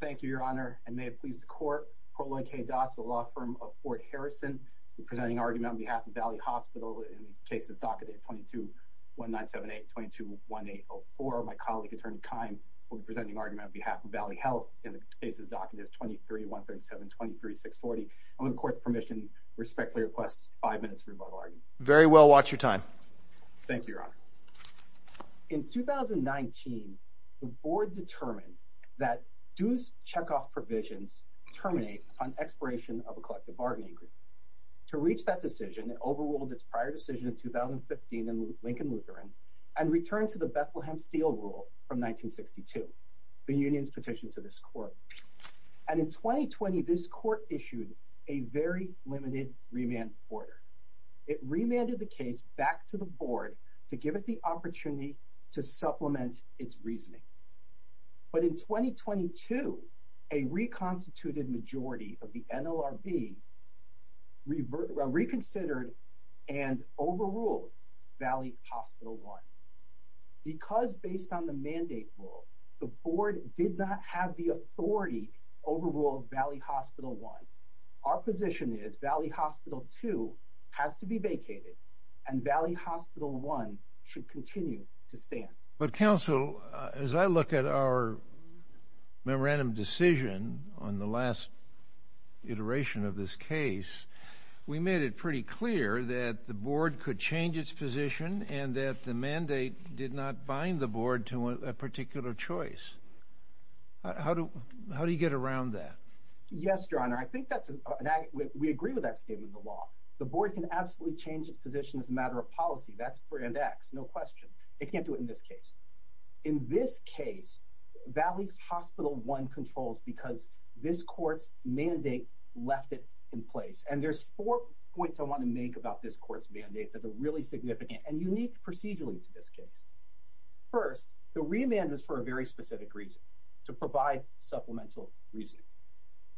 Thank you, Your Honor. I may have pleased the court. Colonel K. Doss, a law firm of Fort Harrison, will be presenting argument on behalf of Valley Hospital in cases documented 22-1978, 22-1804. My colleague, Attorney Kime, will be presenting argument on behalf of Valley Health in cases documented 23-137, 23-640. On the court's permission, I respectfully request five minutes for the above argument. Very well. Watch your time. Thank you, Your Honor. In 2019, the board determined that dues check-off provisions terminate on expiration of a collective bargaining agreement. To reach that decision, it overruled its prior decision in 2015 in Lincoln Lutheran and returned to the Bethlehem Steel Rule from 1962, the union's petition to this court. And in 2020, this court issued a very limited remand order. It remanded the case back to the board to give it the opportunity to supplement its reasoning. But in 2022, a reconstituted majority of the NLRB reconsidered and overruled Valley Hospital I. Because based on the mandate rule, the board did not have the authority to overrule Valley Hospital I, our position is Valley Hospital II has to be vacated and Valley continues to stand. But counsel, as I look at our memorandum decision on the last iteration of this case, we made it pretty clear that the board could change its position and that the mandate did not bind the board to a particular choice. How do you get around that? Yes, Your Honor. I think that's an argument. We agree with that state of the law. The board can absolutely change its matter of policy. That's grand X, no question. They can't do it in this case. In this case, Valley Hospital I controls because this court's mandate left it in place. And there's four points I want to make about this court's mandate that are really significant and unique procedurally to this case. First, the remand is for a very specific reason, to provide supplemental reasoning.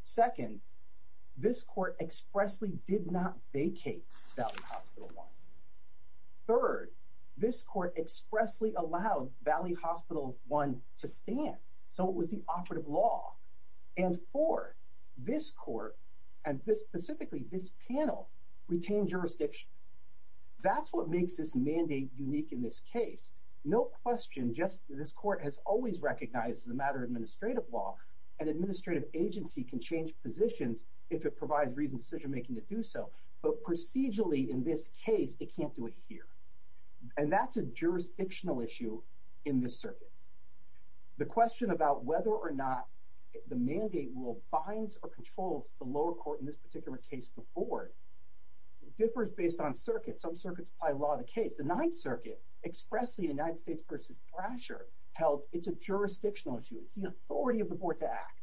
Second, this court expressly allowed Valley Hospital I to stand, so it was the operative law. And fourth, this court and specifically this panel retained jurisdiction. That's what makes this mandate unique in this case. No question, just this court has always recognized the matter of administrative law. An administrative agency can change positions if it provides reasoned case, it can't do it here. And that's a jurisdictional issue in this circuit. The question about whether or not the mandate will bind or control the lower court in this particular case, the board, differs based on circuit. Some circuits apply law to case. The Ninth Circuit expressly in United States v. Thrasher held it's a jurisdictional issue. It's the authority of the board to act.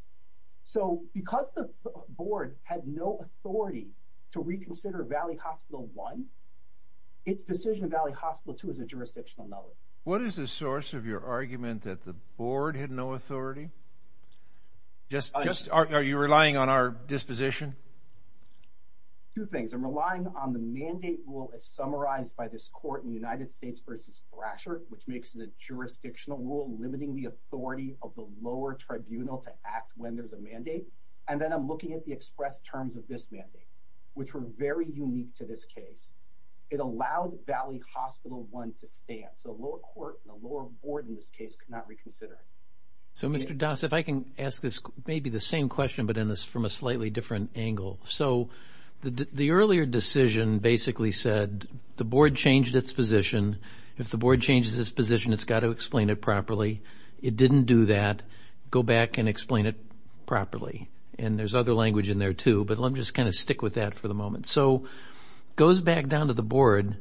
So because the board had no authority to reconsider Valley Hospital I, it's decision of Valley Hospital II is a jurisdictional matter. What is the source of your argument that the board had no authority? Just are you relying on our disposition? Two things. I'm relying on the mandate rule as summarized by this court in the United States v. Thrasher, which makes it a jurisdictional rule limiting the authority of the lower tribunal to act when there's a mandate. And then I'm looking at the express terms of this mandate, which were very unique to this case. It allowed Valley Hospital I to stand. So lower court and lower board in this case could not reconsider. So Mr. Das, if I can ask this maybe the same question but in this from a slightly different angle. So the earlier decision basically said the board changed its position. If the board changes its position, it's got to explain it properly. It didn't do that. Go back and explain it properly. And there's other language in there too, but let me just kind of stick with that for the moment. So goes back down to the board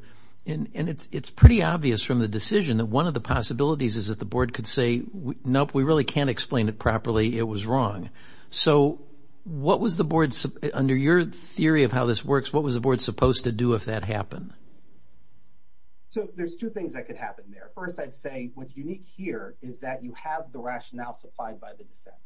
and it's pretty obvious from the decision that one of the possibilities is that the board could say, nope, we really can't explain it properly. It was wrong. So what was the board, under your theory of how this works, what was the board supposed to do if that happened? So there's two things that could happen there. First I'd say what's unique here is that you have the rationale to find by the dissent.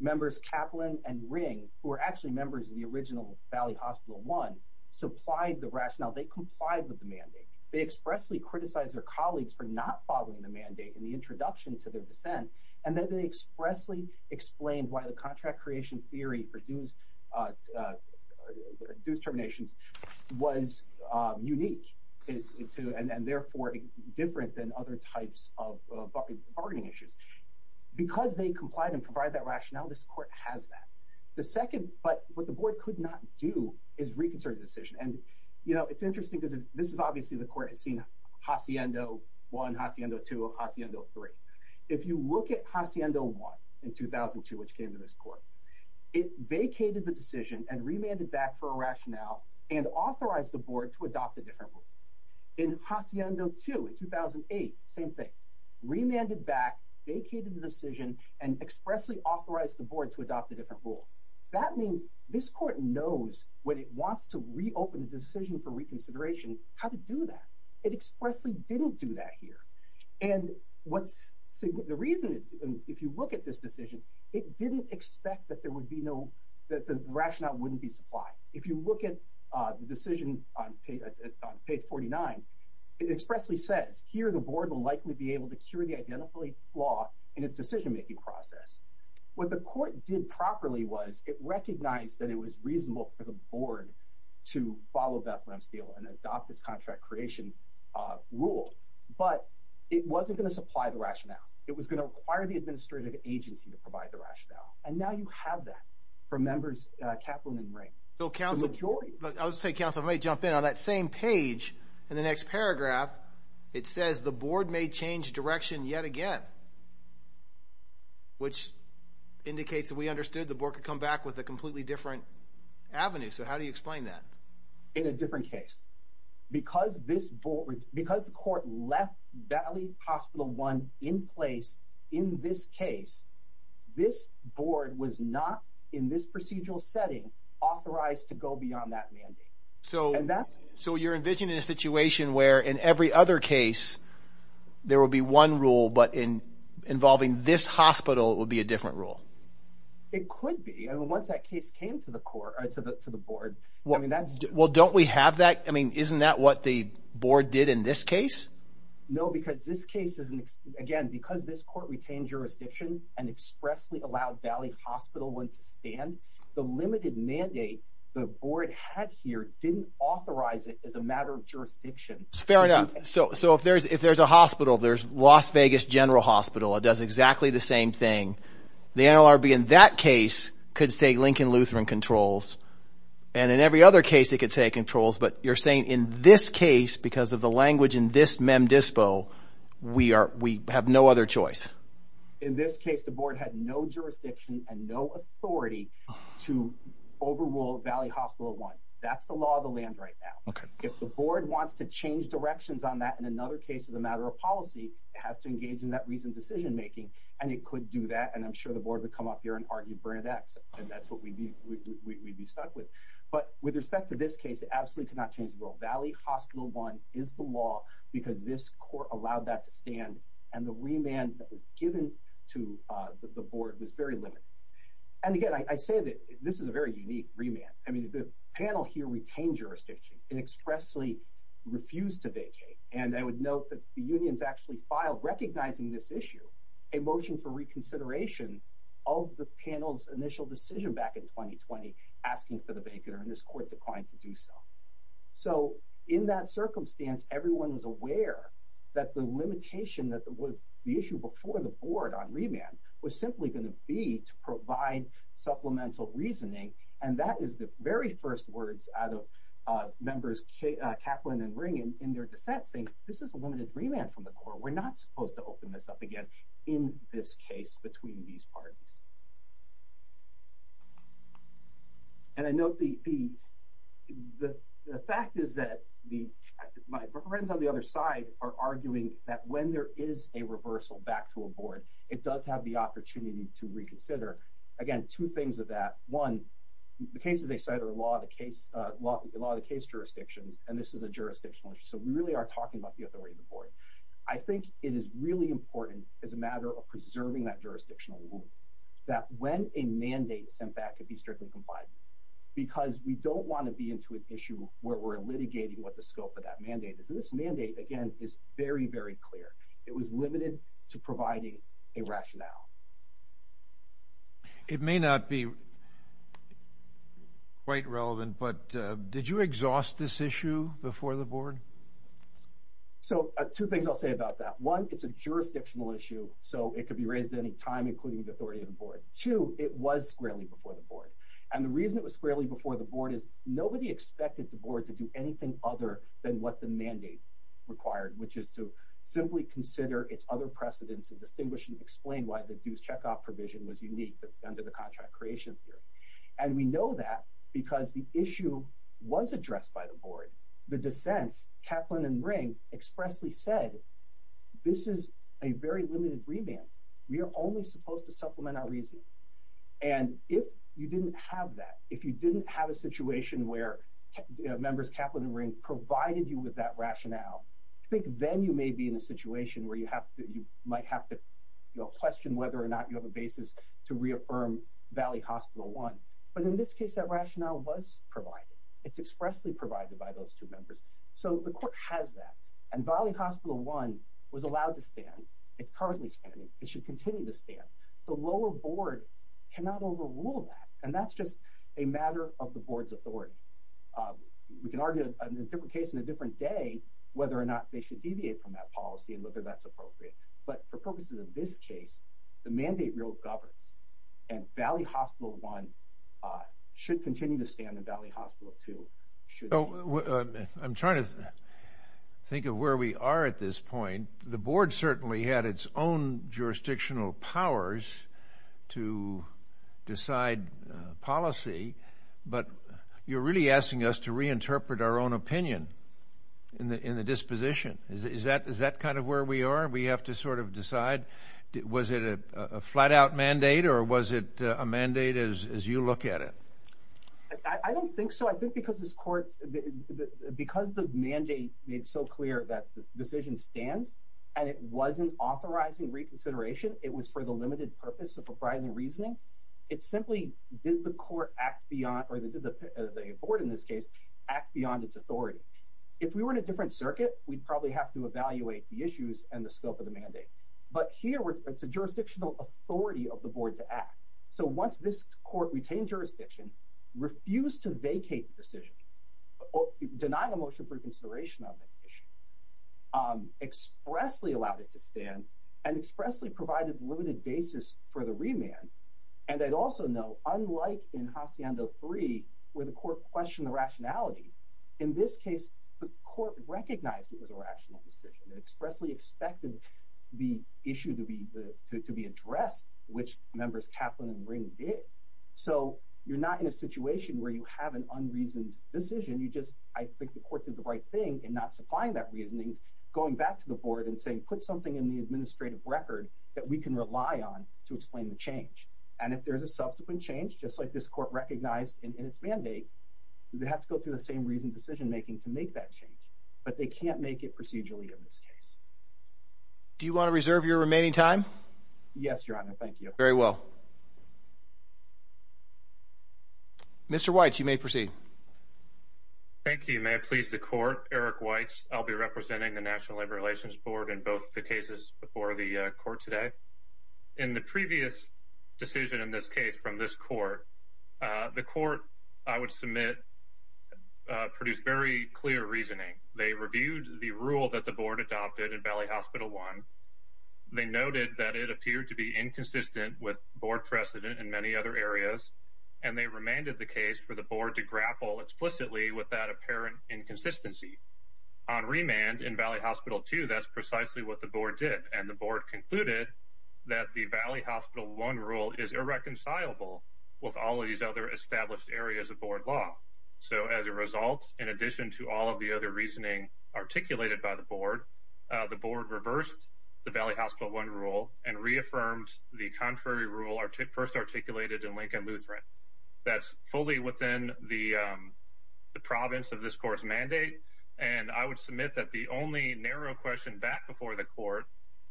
Members Kaplan and Ring, who are actually members of the original Valley Hospital I, supplied the rationale. They complied with the mandate. They expressly criticized their colleagues for not following the mandate in the introduction to their dissent and then they expressly explained why the contract creation theory for deuce terminations was unique and therefore different than other types of bargaining issues. Because they complied and provide that rationale, this court has that. The second, but what the board could not do, is reconsider the decision. And you know, it's interesting because this is obviously the court has seen Hacienda 1, Hacienda 2, Hacienda 3. If you look at Hacienda 1 in 2002, which came to this court, it vacated the decision and remanded back for a rationale and authorized the board to adopt a different rule. In Hacienda 2 in 2008, same thing. Remanded back, vacated the decision, and expressly authorized the board to adopt a different rule. That means this court knows when it wants to reopen the decision for reconsideration how to do that. It expressly didn't do that here. And what's the reason is, if you look at this decision, it didn't expect that there would be no, that the rationale wouldn't be supplied. If you look at the decision on page 49, it expressly says, here the board will likely be able to cure the identifiable flaw in its decision-making process. What the court did properly was, it recognized that it was reasonable for the board to follow Bethlehem's deal and adopt its contract creation rule. But it wasn't going to supply the rationale. It was going to require the administrative agency to provide the rationale. And now you have that from members Kaplan and Rank, the majority. I would say, counsel, if I may jump in, on that same page, in the next paragraph, it says the board could come back with a completely different avenue. So how do you explain that? In a different case. Because this board, because the court left Valley Hospital One in place in this case, this board was not, in this procedural setting, authorized to go beyond that mandate. So you're envisioning a situation where, in every other case, there will be one rule, but in involving this hospital, it will be a different rule. It could be. Once that case came to the court, or to the board. Well, don't we have that? I mean, isn't that what the board did in this case? No, because this case is, again, because this court retained jurisdiction and expressly allowed Valley Hospital One to stand, the limited mandate the So if there's a hospital, there's Las Vegas General Hospital, it does exactly the same thing. The NLRB in that case could say Lincoln Lutheran Controls, and in every other case it could say controls, but you're saying in this case, because of the language in this mem dispo, we are, we have no other choice. In this case, the board had no jurisdiction and no authority to overrule Valley Hospital One. That's the law of the land right now. If the board wants to change directions on that, in another case, as a matter of policy, it has to engage in that recent decision-making, and it could do that, and I'm sure the board would come up here and argue Burnett X, and that's what we'd be stuck with. But with respect to this case, it absolutely could not change the rule. Valley Hospital One is the law, because this court allowed that to stand, and the remand that was given to the board was very limited. And again, this is a very unique remand. I mean, the panel here retained jurisdiction and expressly refused to vacate, and I would note that the unions actually filed, recognizing this issue, a motion for reconsideration of the panel's initial decision back in 2020, asking for the vacater, and this court declined to do so. So in that circumstance, everyone was aware that the limitation that was the issue before the board on remand was simply going to be to provide supplemental reasoning, and that is the very first words out of members Kaplan and Ring in their dissent, saying this is a limited remand from the court, we're not supposed to open this up again in this case between these parties. And I note the fact is that my friends on the other side are arguing that when there is a reversal back to a board, it does have the two things of that. One, the cases they cite are the law of the case, law of the case jurisdictions, and this is a jurisdictional issue. So we really are talking about the authority of the board. I think it is really important as a matter of preserving that jurisdictional rule, that when a mandate is sent back to be strictly compliant, because we don't want to be into an issue where we're litigating what the scope of that mandate is. This mandate, again, is very, very clear. It was limited to providing a rationale. It may not be quite relevant, but did you exhaust this issue before the board? So two things I'll say about that. One, it's a jurisdictional issue, so it could be raised at any time, including the authority of the board. Two, it was squarely before the board, and the reason it was squarely before the board is nobody expected the board to do anything other than what the mandate required, which is to simply consider its other precedents and distinguish and explain why the dues checkoff provision was unique under the contract creation period. And we know that because the issue was addressed by the board. The dissents, Kaplan and Ring, expressly said, this is a very limited remand. We are only supposed to supplement our reasoning. And if you didn't have that, if you didn't have a situation where members Kaplan and Ring provided you with that rationale, I think then you may be in a situation where you might have to question whether or not you have a basis to reaffirm Valley Hospital 1. But in this case, that rationale was provided. It's expressly provided by those two members. So the court has that, and Valley Hospital 1 was allowed to stand. It's currently standing. It should continue to stand. The lower board cannot overrule that, and that's just a matter of the board's authority. We can argue, in a different case, in a different day, whether or not they should deviate from that policy and whether that's appropriate. But the focus in this case, the mandate rule governs, and Valley Hospital 1 should continue to stand, and Valley Hospital 2 should. I'm trying to think of where we are at this point. The board certainly had its own jurisdictional powers to decide policy, but you're asking us to reinterpret our own opinion in the disposition. Is that kind of where we are? We have to sort of decide. Was it a flat-out mandate, or was it a mandate as you look at it? I don't think so. I think because this court, because the mandate made so clear that the decision stands, and it wasn't authorizing reconsideration, it was for the limited purpose of providing reasoning, it simply did the court act beyond, or the board in this case, act beyond its authority. If we were in a different circuit, we'd probably have to evaluate the issues and the scope of the mandate. But here, it's a jurisdictional authority of the board to act. So once this court retained jurisdiction, refused to vacate the decision, denied a motion for consideration of the decision, expressly allowed it to stand, and expressly provided a limited basis for the remand. And I'd also note, unlike in Hacienda 3, where the court questioned the rationality, in this case, the court recognized it was a rational decision. It expressly expected the issue to be addressed, which members Kaplan and Ring did. So you're not in a situation where you have an unreasoned decision, you just, I think the court did the right thing in not supplying that reasoning, going back to the board and saying, put something in the administrative record that we can rely on to explain the change. And if there's a subsequent change, just like this court recognized in its mandate, you have to go through the same reasoned decision making to make that change. But they can't make it procedurally in this case. Do you want to reserve your remaining time? Yes, Your Honor, thank you. Very well. Mr. Weitz, you may proceed. Thank you. May it please the court, Eric Weitz. I'll be representing the National Labor Relations Board in both the cases before the court today. In the previous decision in this case from this court, the court, I would submit, produced very clear reasoning. They reviewed the rule that the board adopted in Valley Hospital 1. They noted that it appeared to be inconsistent with board precedent in many other areas, and they remanded the case for the Valley Hospital 2. That's precisely what the board did, and the board concluded that the Valley Hospital 1 rule is irreconcilable with all of these other established areas of board law. So as a result, in addition to all of the other reasoning articulated by the board, the board reversed the Valley Hospital 1 rule and reaffirmed the contrary rule first articulated in Lincoln Lutheran. That's fully within the province of this court's mandate, and I would submit that the only narrow question back before the court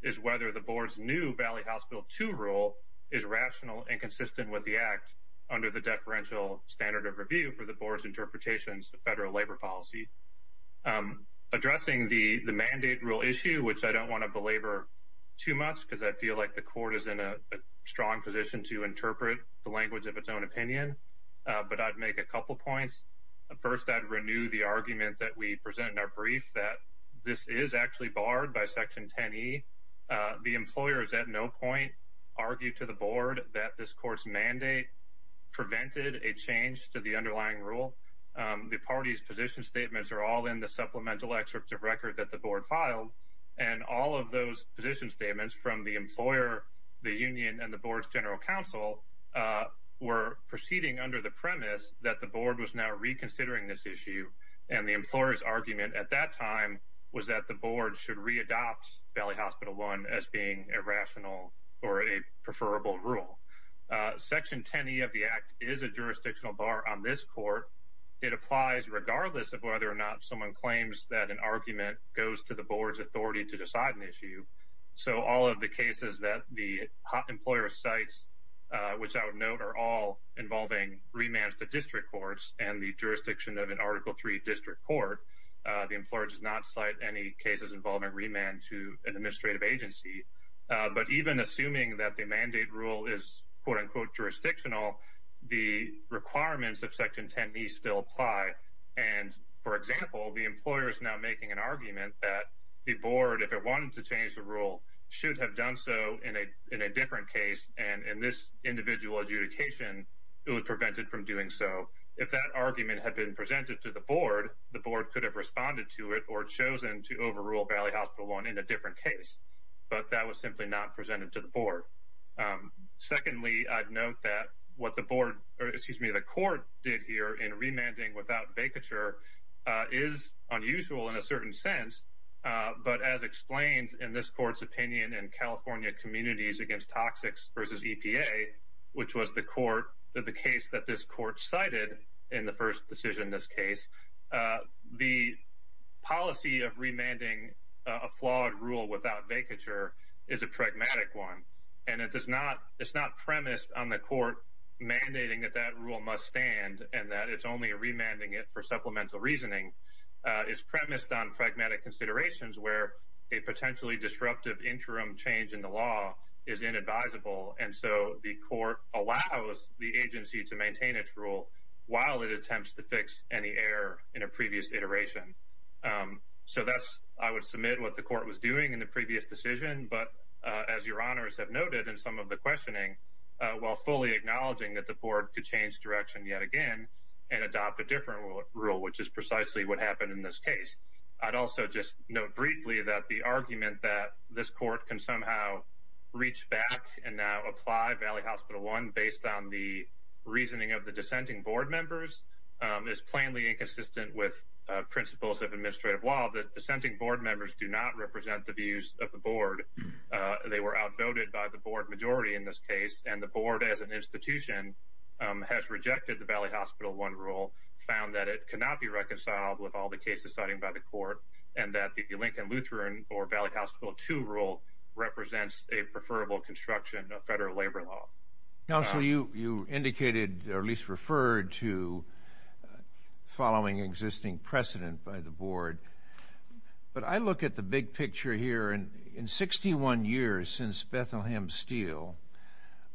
is whether the board's new Valley Hospital 2 rule is rational and consistent with the act under the deferential standard of review for the board's interpretations of federal labor policy. Addressing the mandate rule issue, which I don't want to belabor too much because I feel like the court is in a strong position to interpret the language of its own opinion, but I'd make a couple points. First, I'd renew the argument that we present in our brief that this is actually barred by Section 10E. The employers at no point argue to the board that this court's mandate prevented a change to the underlying rule. The party's position statements are all in the supplemental excerpts of record that the board filed, and all of those position statements from the employer, the union, and the board's general counsel were proceeding under the premise that the board was now reconsidering this issue, and the employer's argument at that time was that the board should re-adopt Valley Hospital 1 as being a rational or a preferable rule. Section 10E of the act is a jurisdictional bar on this court. It applies regardless of whether or not someone claims that an argument goes to the board's authority to decide an issue, so all of the cases that the employer cites, which I would note are involving remands to district courts and the jurisdiction of an Article III district court, the employer does not cite any cases involving remand to an administrative agency, but even assuming that the mandate rule is quote-unquote jurisdictional, the requirements of Section 10E still apply, and for example, the employer is now making an argument that the board, if it wanted to change the rule, should have done so in a different case, and in this individual adjudication, it would prevent it from doing so. If that argument had been presented to the board, the board could have responded to it or chosen to overrule Valley Hospital 1 in a different case, but that was simply not presented to the board. Secondly, I'd note that what the court did here in remanding without vacature is unusual in a certain sense, but as explained in this court's opinion in California Communities Against Toxics v. EPA, which was the case that this court cited in the first decision in this case, the policy of remanding a flawed rule without vacature is a pragmatic one, and it's not premised on the court mandating that that rule must stand, and that it's only remanding it for supplemental reasoning. It's premised on pragmatic considerations where a potentially disruptive interim change in the law is inadvisable, and so the court allows the agency to maintain its rule while it attempts to fix any error in a previous iteration. So that's, I would submit, what the court was doing in the previous decision, but as your honors have noted in some of the questioning, while fully acknowledging that the board could yet again and adopt a different rule, which is precisely what happened in this case, I'd also just note briefly that the argument that this court can somehow reach back and now apply Valley Hospital 1 based on the reasoning of the dissenting board members is plainly inconsistent with principles of administrative law. The dissenting board members do not represent the views of the board. They were outvoted by the board majority in this case, and the board as an institution has rejected the Valley Hospital 1 rule, found that it cannot be reconciled with all the cases citing by the court, and that the Lincoln-Lutheran or Valley Hospital 2 rule represents a preferable construction of federal labor law. Counsel, you indicated or at least referred to following existing precedent by the board, but I look at the big picture here, and 61 years since Bethlehem Steel,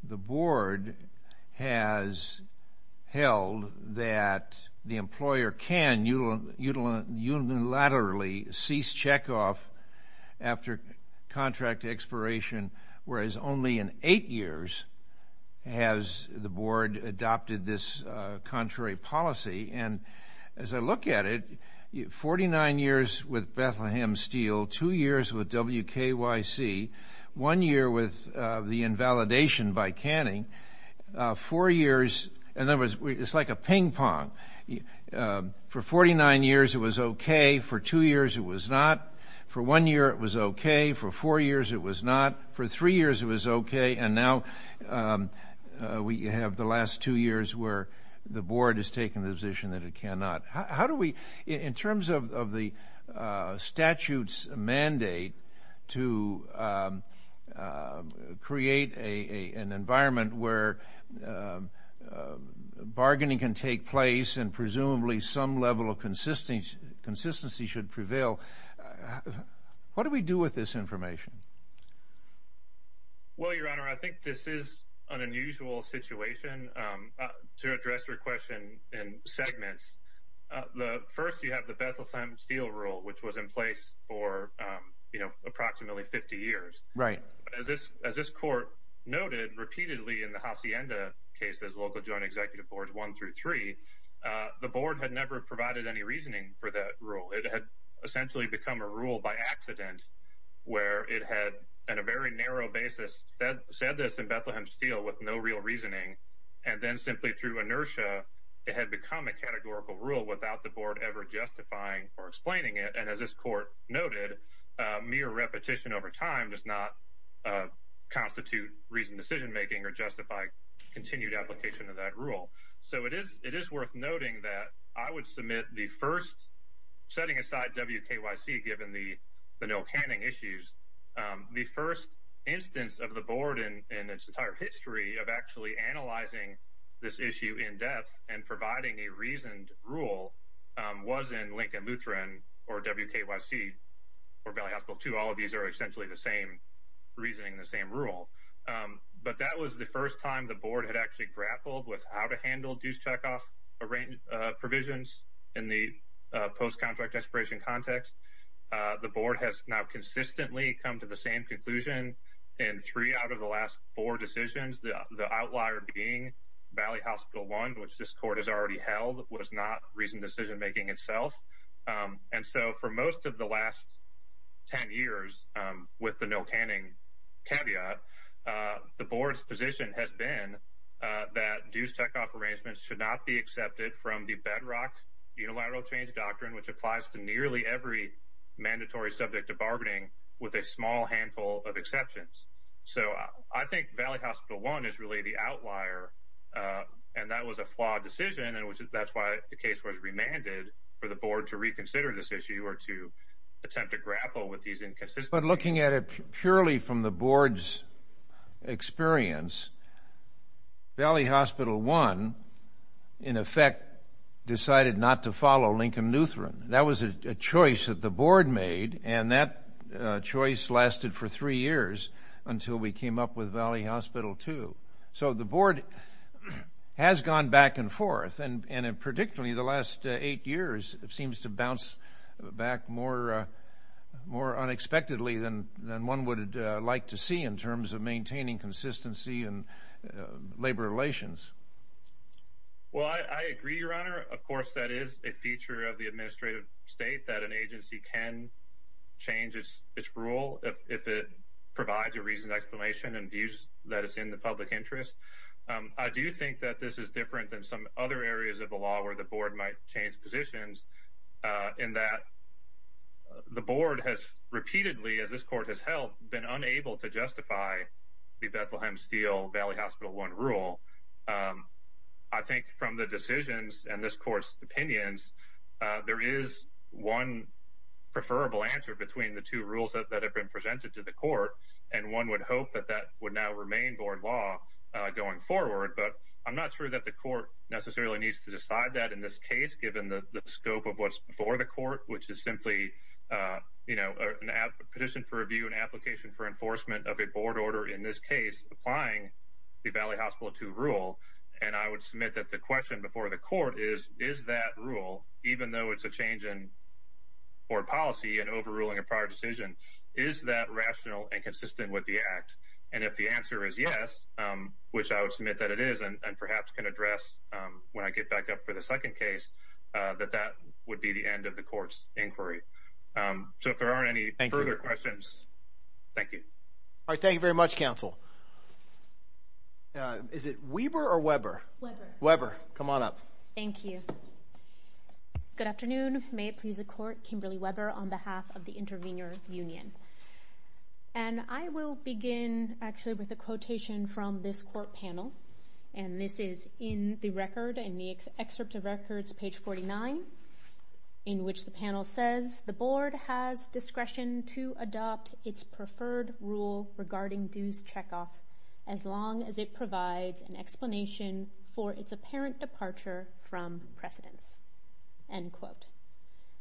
the board has held that the employer can unilaterally cease checkoff after contract expiration, whereas only in eight years has the board adopted this one year with the invalidation by canning, four years, in other words, it's like a ping-pong. For 49 years, it was okay. For two years, it was not. For one year, it was okay. For four years, it was not. For three years, it was okay, and now we have the last two years where the board has to create an environment where bargaining can take place and presumably some level of consistency should prevail. What do we do with this information? Well, Your Honor, I think this is an unusual situation. To address your question in segments, the first, you have the Bethlehem Steel rule, which was in place for approximately 50 years. As this court noted repeatedly in the Hacienda cases, local joint executive boards one through three, the board had never provided any reasoning for that rule. It had essentially become a rule by accident where it had, on a very narrow basis, said this in Bethlehem Steel with no real reasoning and then simply through inertia, it had become a categorical rule without the board ever justifying or explaining it, and as this court noted, mere repetition over time does not constitute reasoned decision-making or justify continued application of that rule. So it is worth noting that I would submit the first, setting aside WKYC given the no canning issues, the first instance of the board in its entire history of actually analyzing this issue in depth and providing a reasoned rule was in Lincoln-Muthren or WKYC or Valley Hospital II. All of these are essentially the same reasoning, the same rule, but that was the first time the board had actually grappled with how to handle due checkoff provisions in the post-contract expiration context. The board has now consistently come to the same conclusion in three out of the last four decisions, the outlier being Valley Hospital I, which this court has already held, was not reasoned decision-making itself, and so for most of the last 10 years, with the no canning caveat, the board's position has been that due checkoff arrangements should not be accepted from the bedrock unilateral change doctrine, which applies to nearly every mandatory subject of bargaining with a small handful of exceptions. So I think Valley Hospital I is really the outlier, and that was a flawed decision, and that's why the case was remanded for the board to reconsider this issue or to attempt to grapple with these inconsistencies. But looking at it purely from the board's experience, Valley Hospital I, in effect, decided not to follow Lincoln-Nutheran. That was a choice that the board made, and that choice lasted for three years until we came up with Valley Hospital II. So the board has gone back and forth, and predictably, the last eight years seems to have been a failure in terms of consistency in labor relations. Well, I agree, Your Honor. Of course, that is a feature of the administrative state, that an agency can change its rule if it provides a reasoned explanation and views that it's in the public interest. I do think that this is different than some other areas of the law where the board might change positions, in that the board has repeatedly, as this court has held, been unable to justify the Bethlehem Steel-Valley Hospital I rule. I think from the decisions and this court's opinions, there is one preferable answer between the two rules that have been presented to the court, and one would hope that that would now remain board law going forward. But I'm not sure that the court necessarily needs to decide that in this case, given the scope of what's before the of a board order in this case applying the Valley Hospital II rule. And I would submit that the question before the court is, is that rule, even though it's a change in board policy and overruling a prior decision, is that rational and consistent with the act? And if the answer is yes, which I would submit that it is, and perhaps can address when I get back up for the second case, that that would be the end of the court's inquiry. So if there aren't any further questions, thank you. All right, thank you very much, counsel. Is it Weber or Weber? Weber. Weber. Come on up. Thank you. Good afternoon. May it please the court, Kimberly Weber on behalf of the intervener union. And I will begin actually with a quotation from this court panel, and this is in the record, in the excerpt of records, page 49, in which the panel says, the board has discretion to adopt its preferred rule regarding dues checkoff as long as it provides an explanation for its apparent departure from precedence, end quote.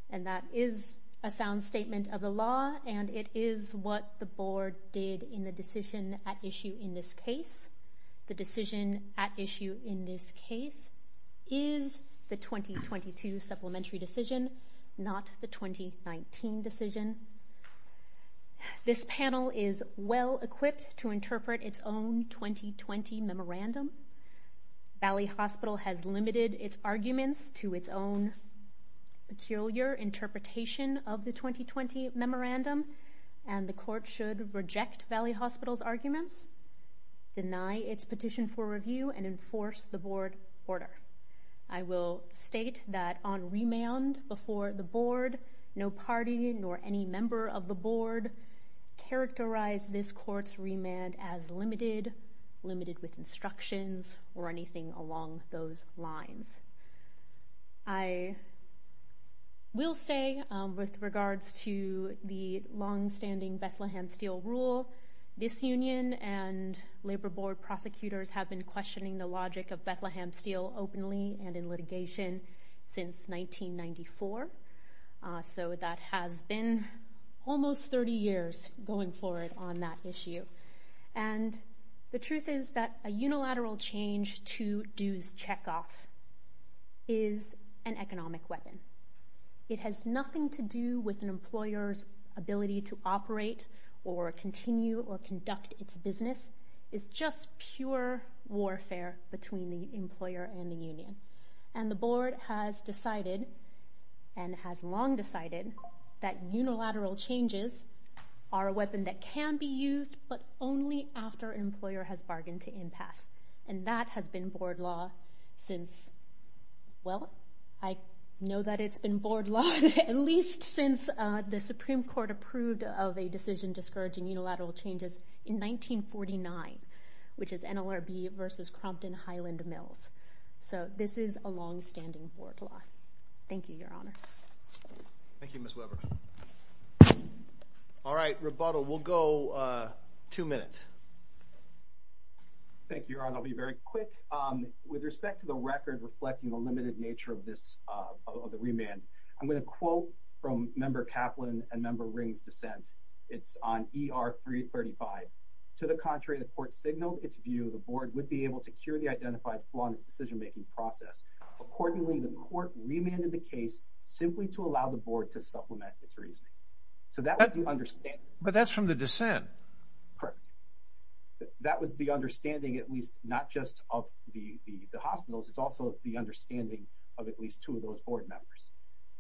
And that is a sound statement of the law, and it is what the board did in the decision at issue in this case. The decision at issue in this case is the 2022 supplementary decision, not the 2019 decision. This panel is well equipped to interpret its own 2020 memorandum. Valley Hospital has limited its arguments to its own peculiar interpretation of the 2020 memorandum, and the court should reject Valley Hospital's arguments, deny its petition for review, and enforce the board order. I will state that on remand before the board, no party nor any member of the board characterize this court's remand as limited, limited with instructions or anything along those lines. I will say with regards to the long-standing Bethlehem Steel rule, this union and labor board prosecutors have been questioning the logic of Bethlehem Steel openly and in litigation since 1994. So that has been almost 30 years going forward on that issue. And the truth is that a unilateral change to dues checkoff is an economic weapon. It has nothing to with an employer's ability to operate or continue or conduct its business. It's just pure warfare between the employer and the union. And the board has decided and has long decided that unilateral changes are a weapon that can be used, but only after employer has bargained to impasse. And that since the Supreme Court approved of a decision discouraging unilateral changes in 1949, which is NLRB versus Crompton Highland Mills. So this is a long-standing board law. Thank you, Your Honor. Thank you, Ms. Weber. All right, rebuttal. We'll go two minutes. Thank you, Your Honor. I'll be very quick. With respect to the record reflecting the limited nature of this, of the remand, I'm going to quote from Member Kaplan and Member Ring's dissent. It's on ER 335. To the contrary, the court signaled its view the board would be able to cure the identified flaw in the decision-making process. Accordingly, the court remanded the case simply to allow the board to supplement its reasoning. So that was the understanding. But that's from the dissent. Correct. That was the understanding, at least not just of the hospitals, it's also the understanding of at least two of those board members.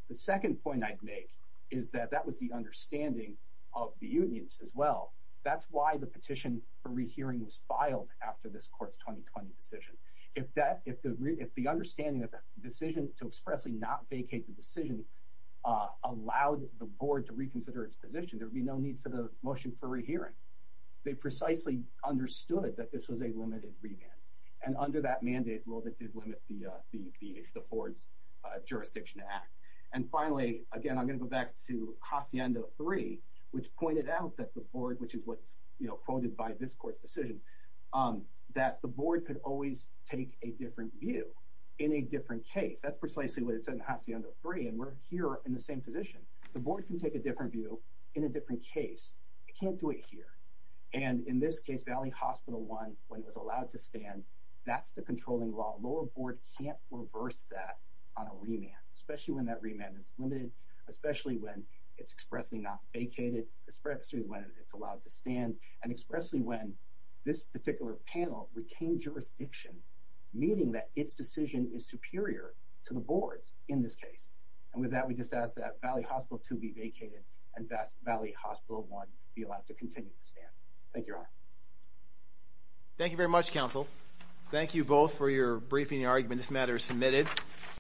The second point I'd make is that that was the understanding of the unions as well. That's why the petition for rehearing was filed after this court's 2020 decision. If the understanding of the decision to expressly not vacate the decision allowed the board to reconsider its position, there'd be no need for the motion for rehearing. They precisely understood that this was a limited remand. And under that mandate, it did limit the board's jurisdiction to act. And finally, again, I'm going to go back to Hacienda 3, which pointed out that the board, which is what's quoted by this court's decision, that the board could always take a different view in a different case. That's precisely what it said in Hacienda 3. And we're here in the same position. The board can take a different view in a different case. It can't do it here. And in this case, Valley Hospital 1, when it was allowed to stand, that's the controlling law. Lower board can't reverse that on a remand, especially when that remand is limited, especially when it's expressly not vacated, especially when it's allowed to stand and expressly when this particular panel retained jurisdiction, meaning that its decision is superior to the board's in this case. And with that, we just ask that Valley Hospital 2 be vacated and that Valley Hospital 1 be allowed to continue to stand. Thank you, Your Honor. Thank you very much, counsel. Thank you both for your briefing and argument. This matter is submitted.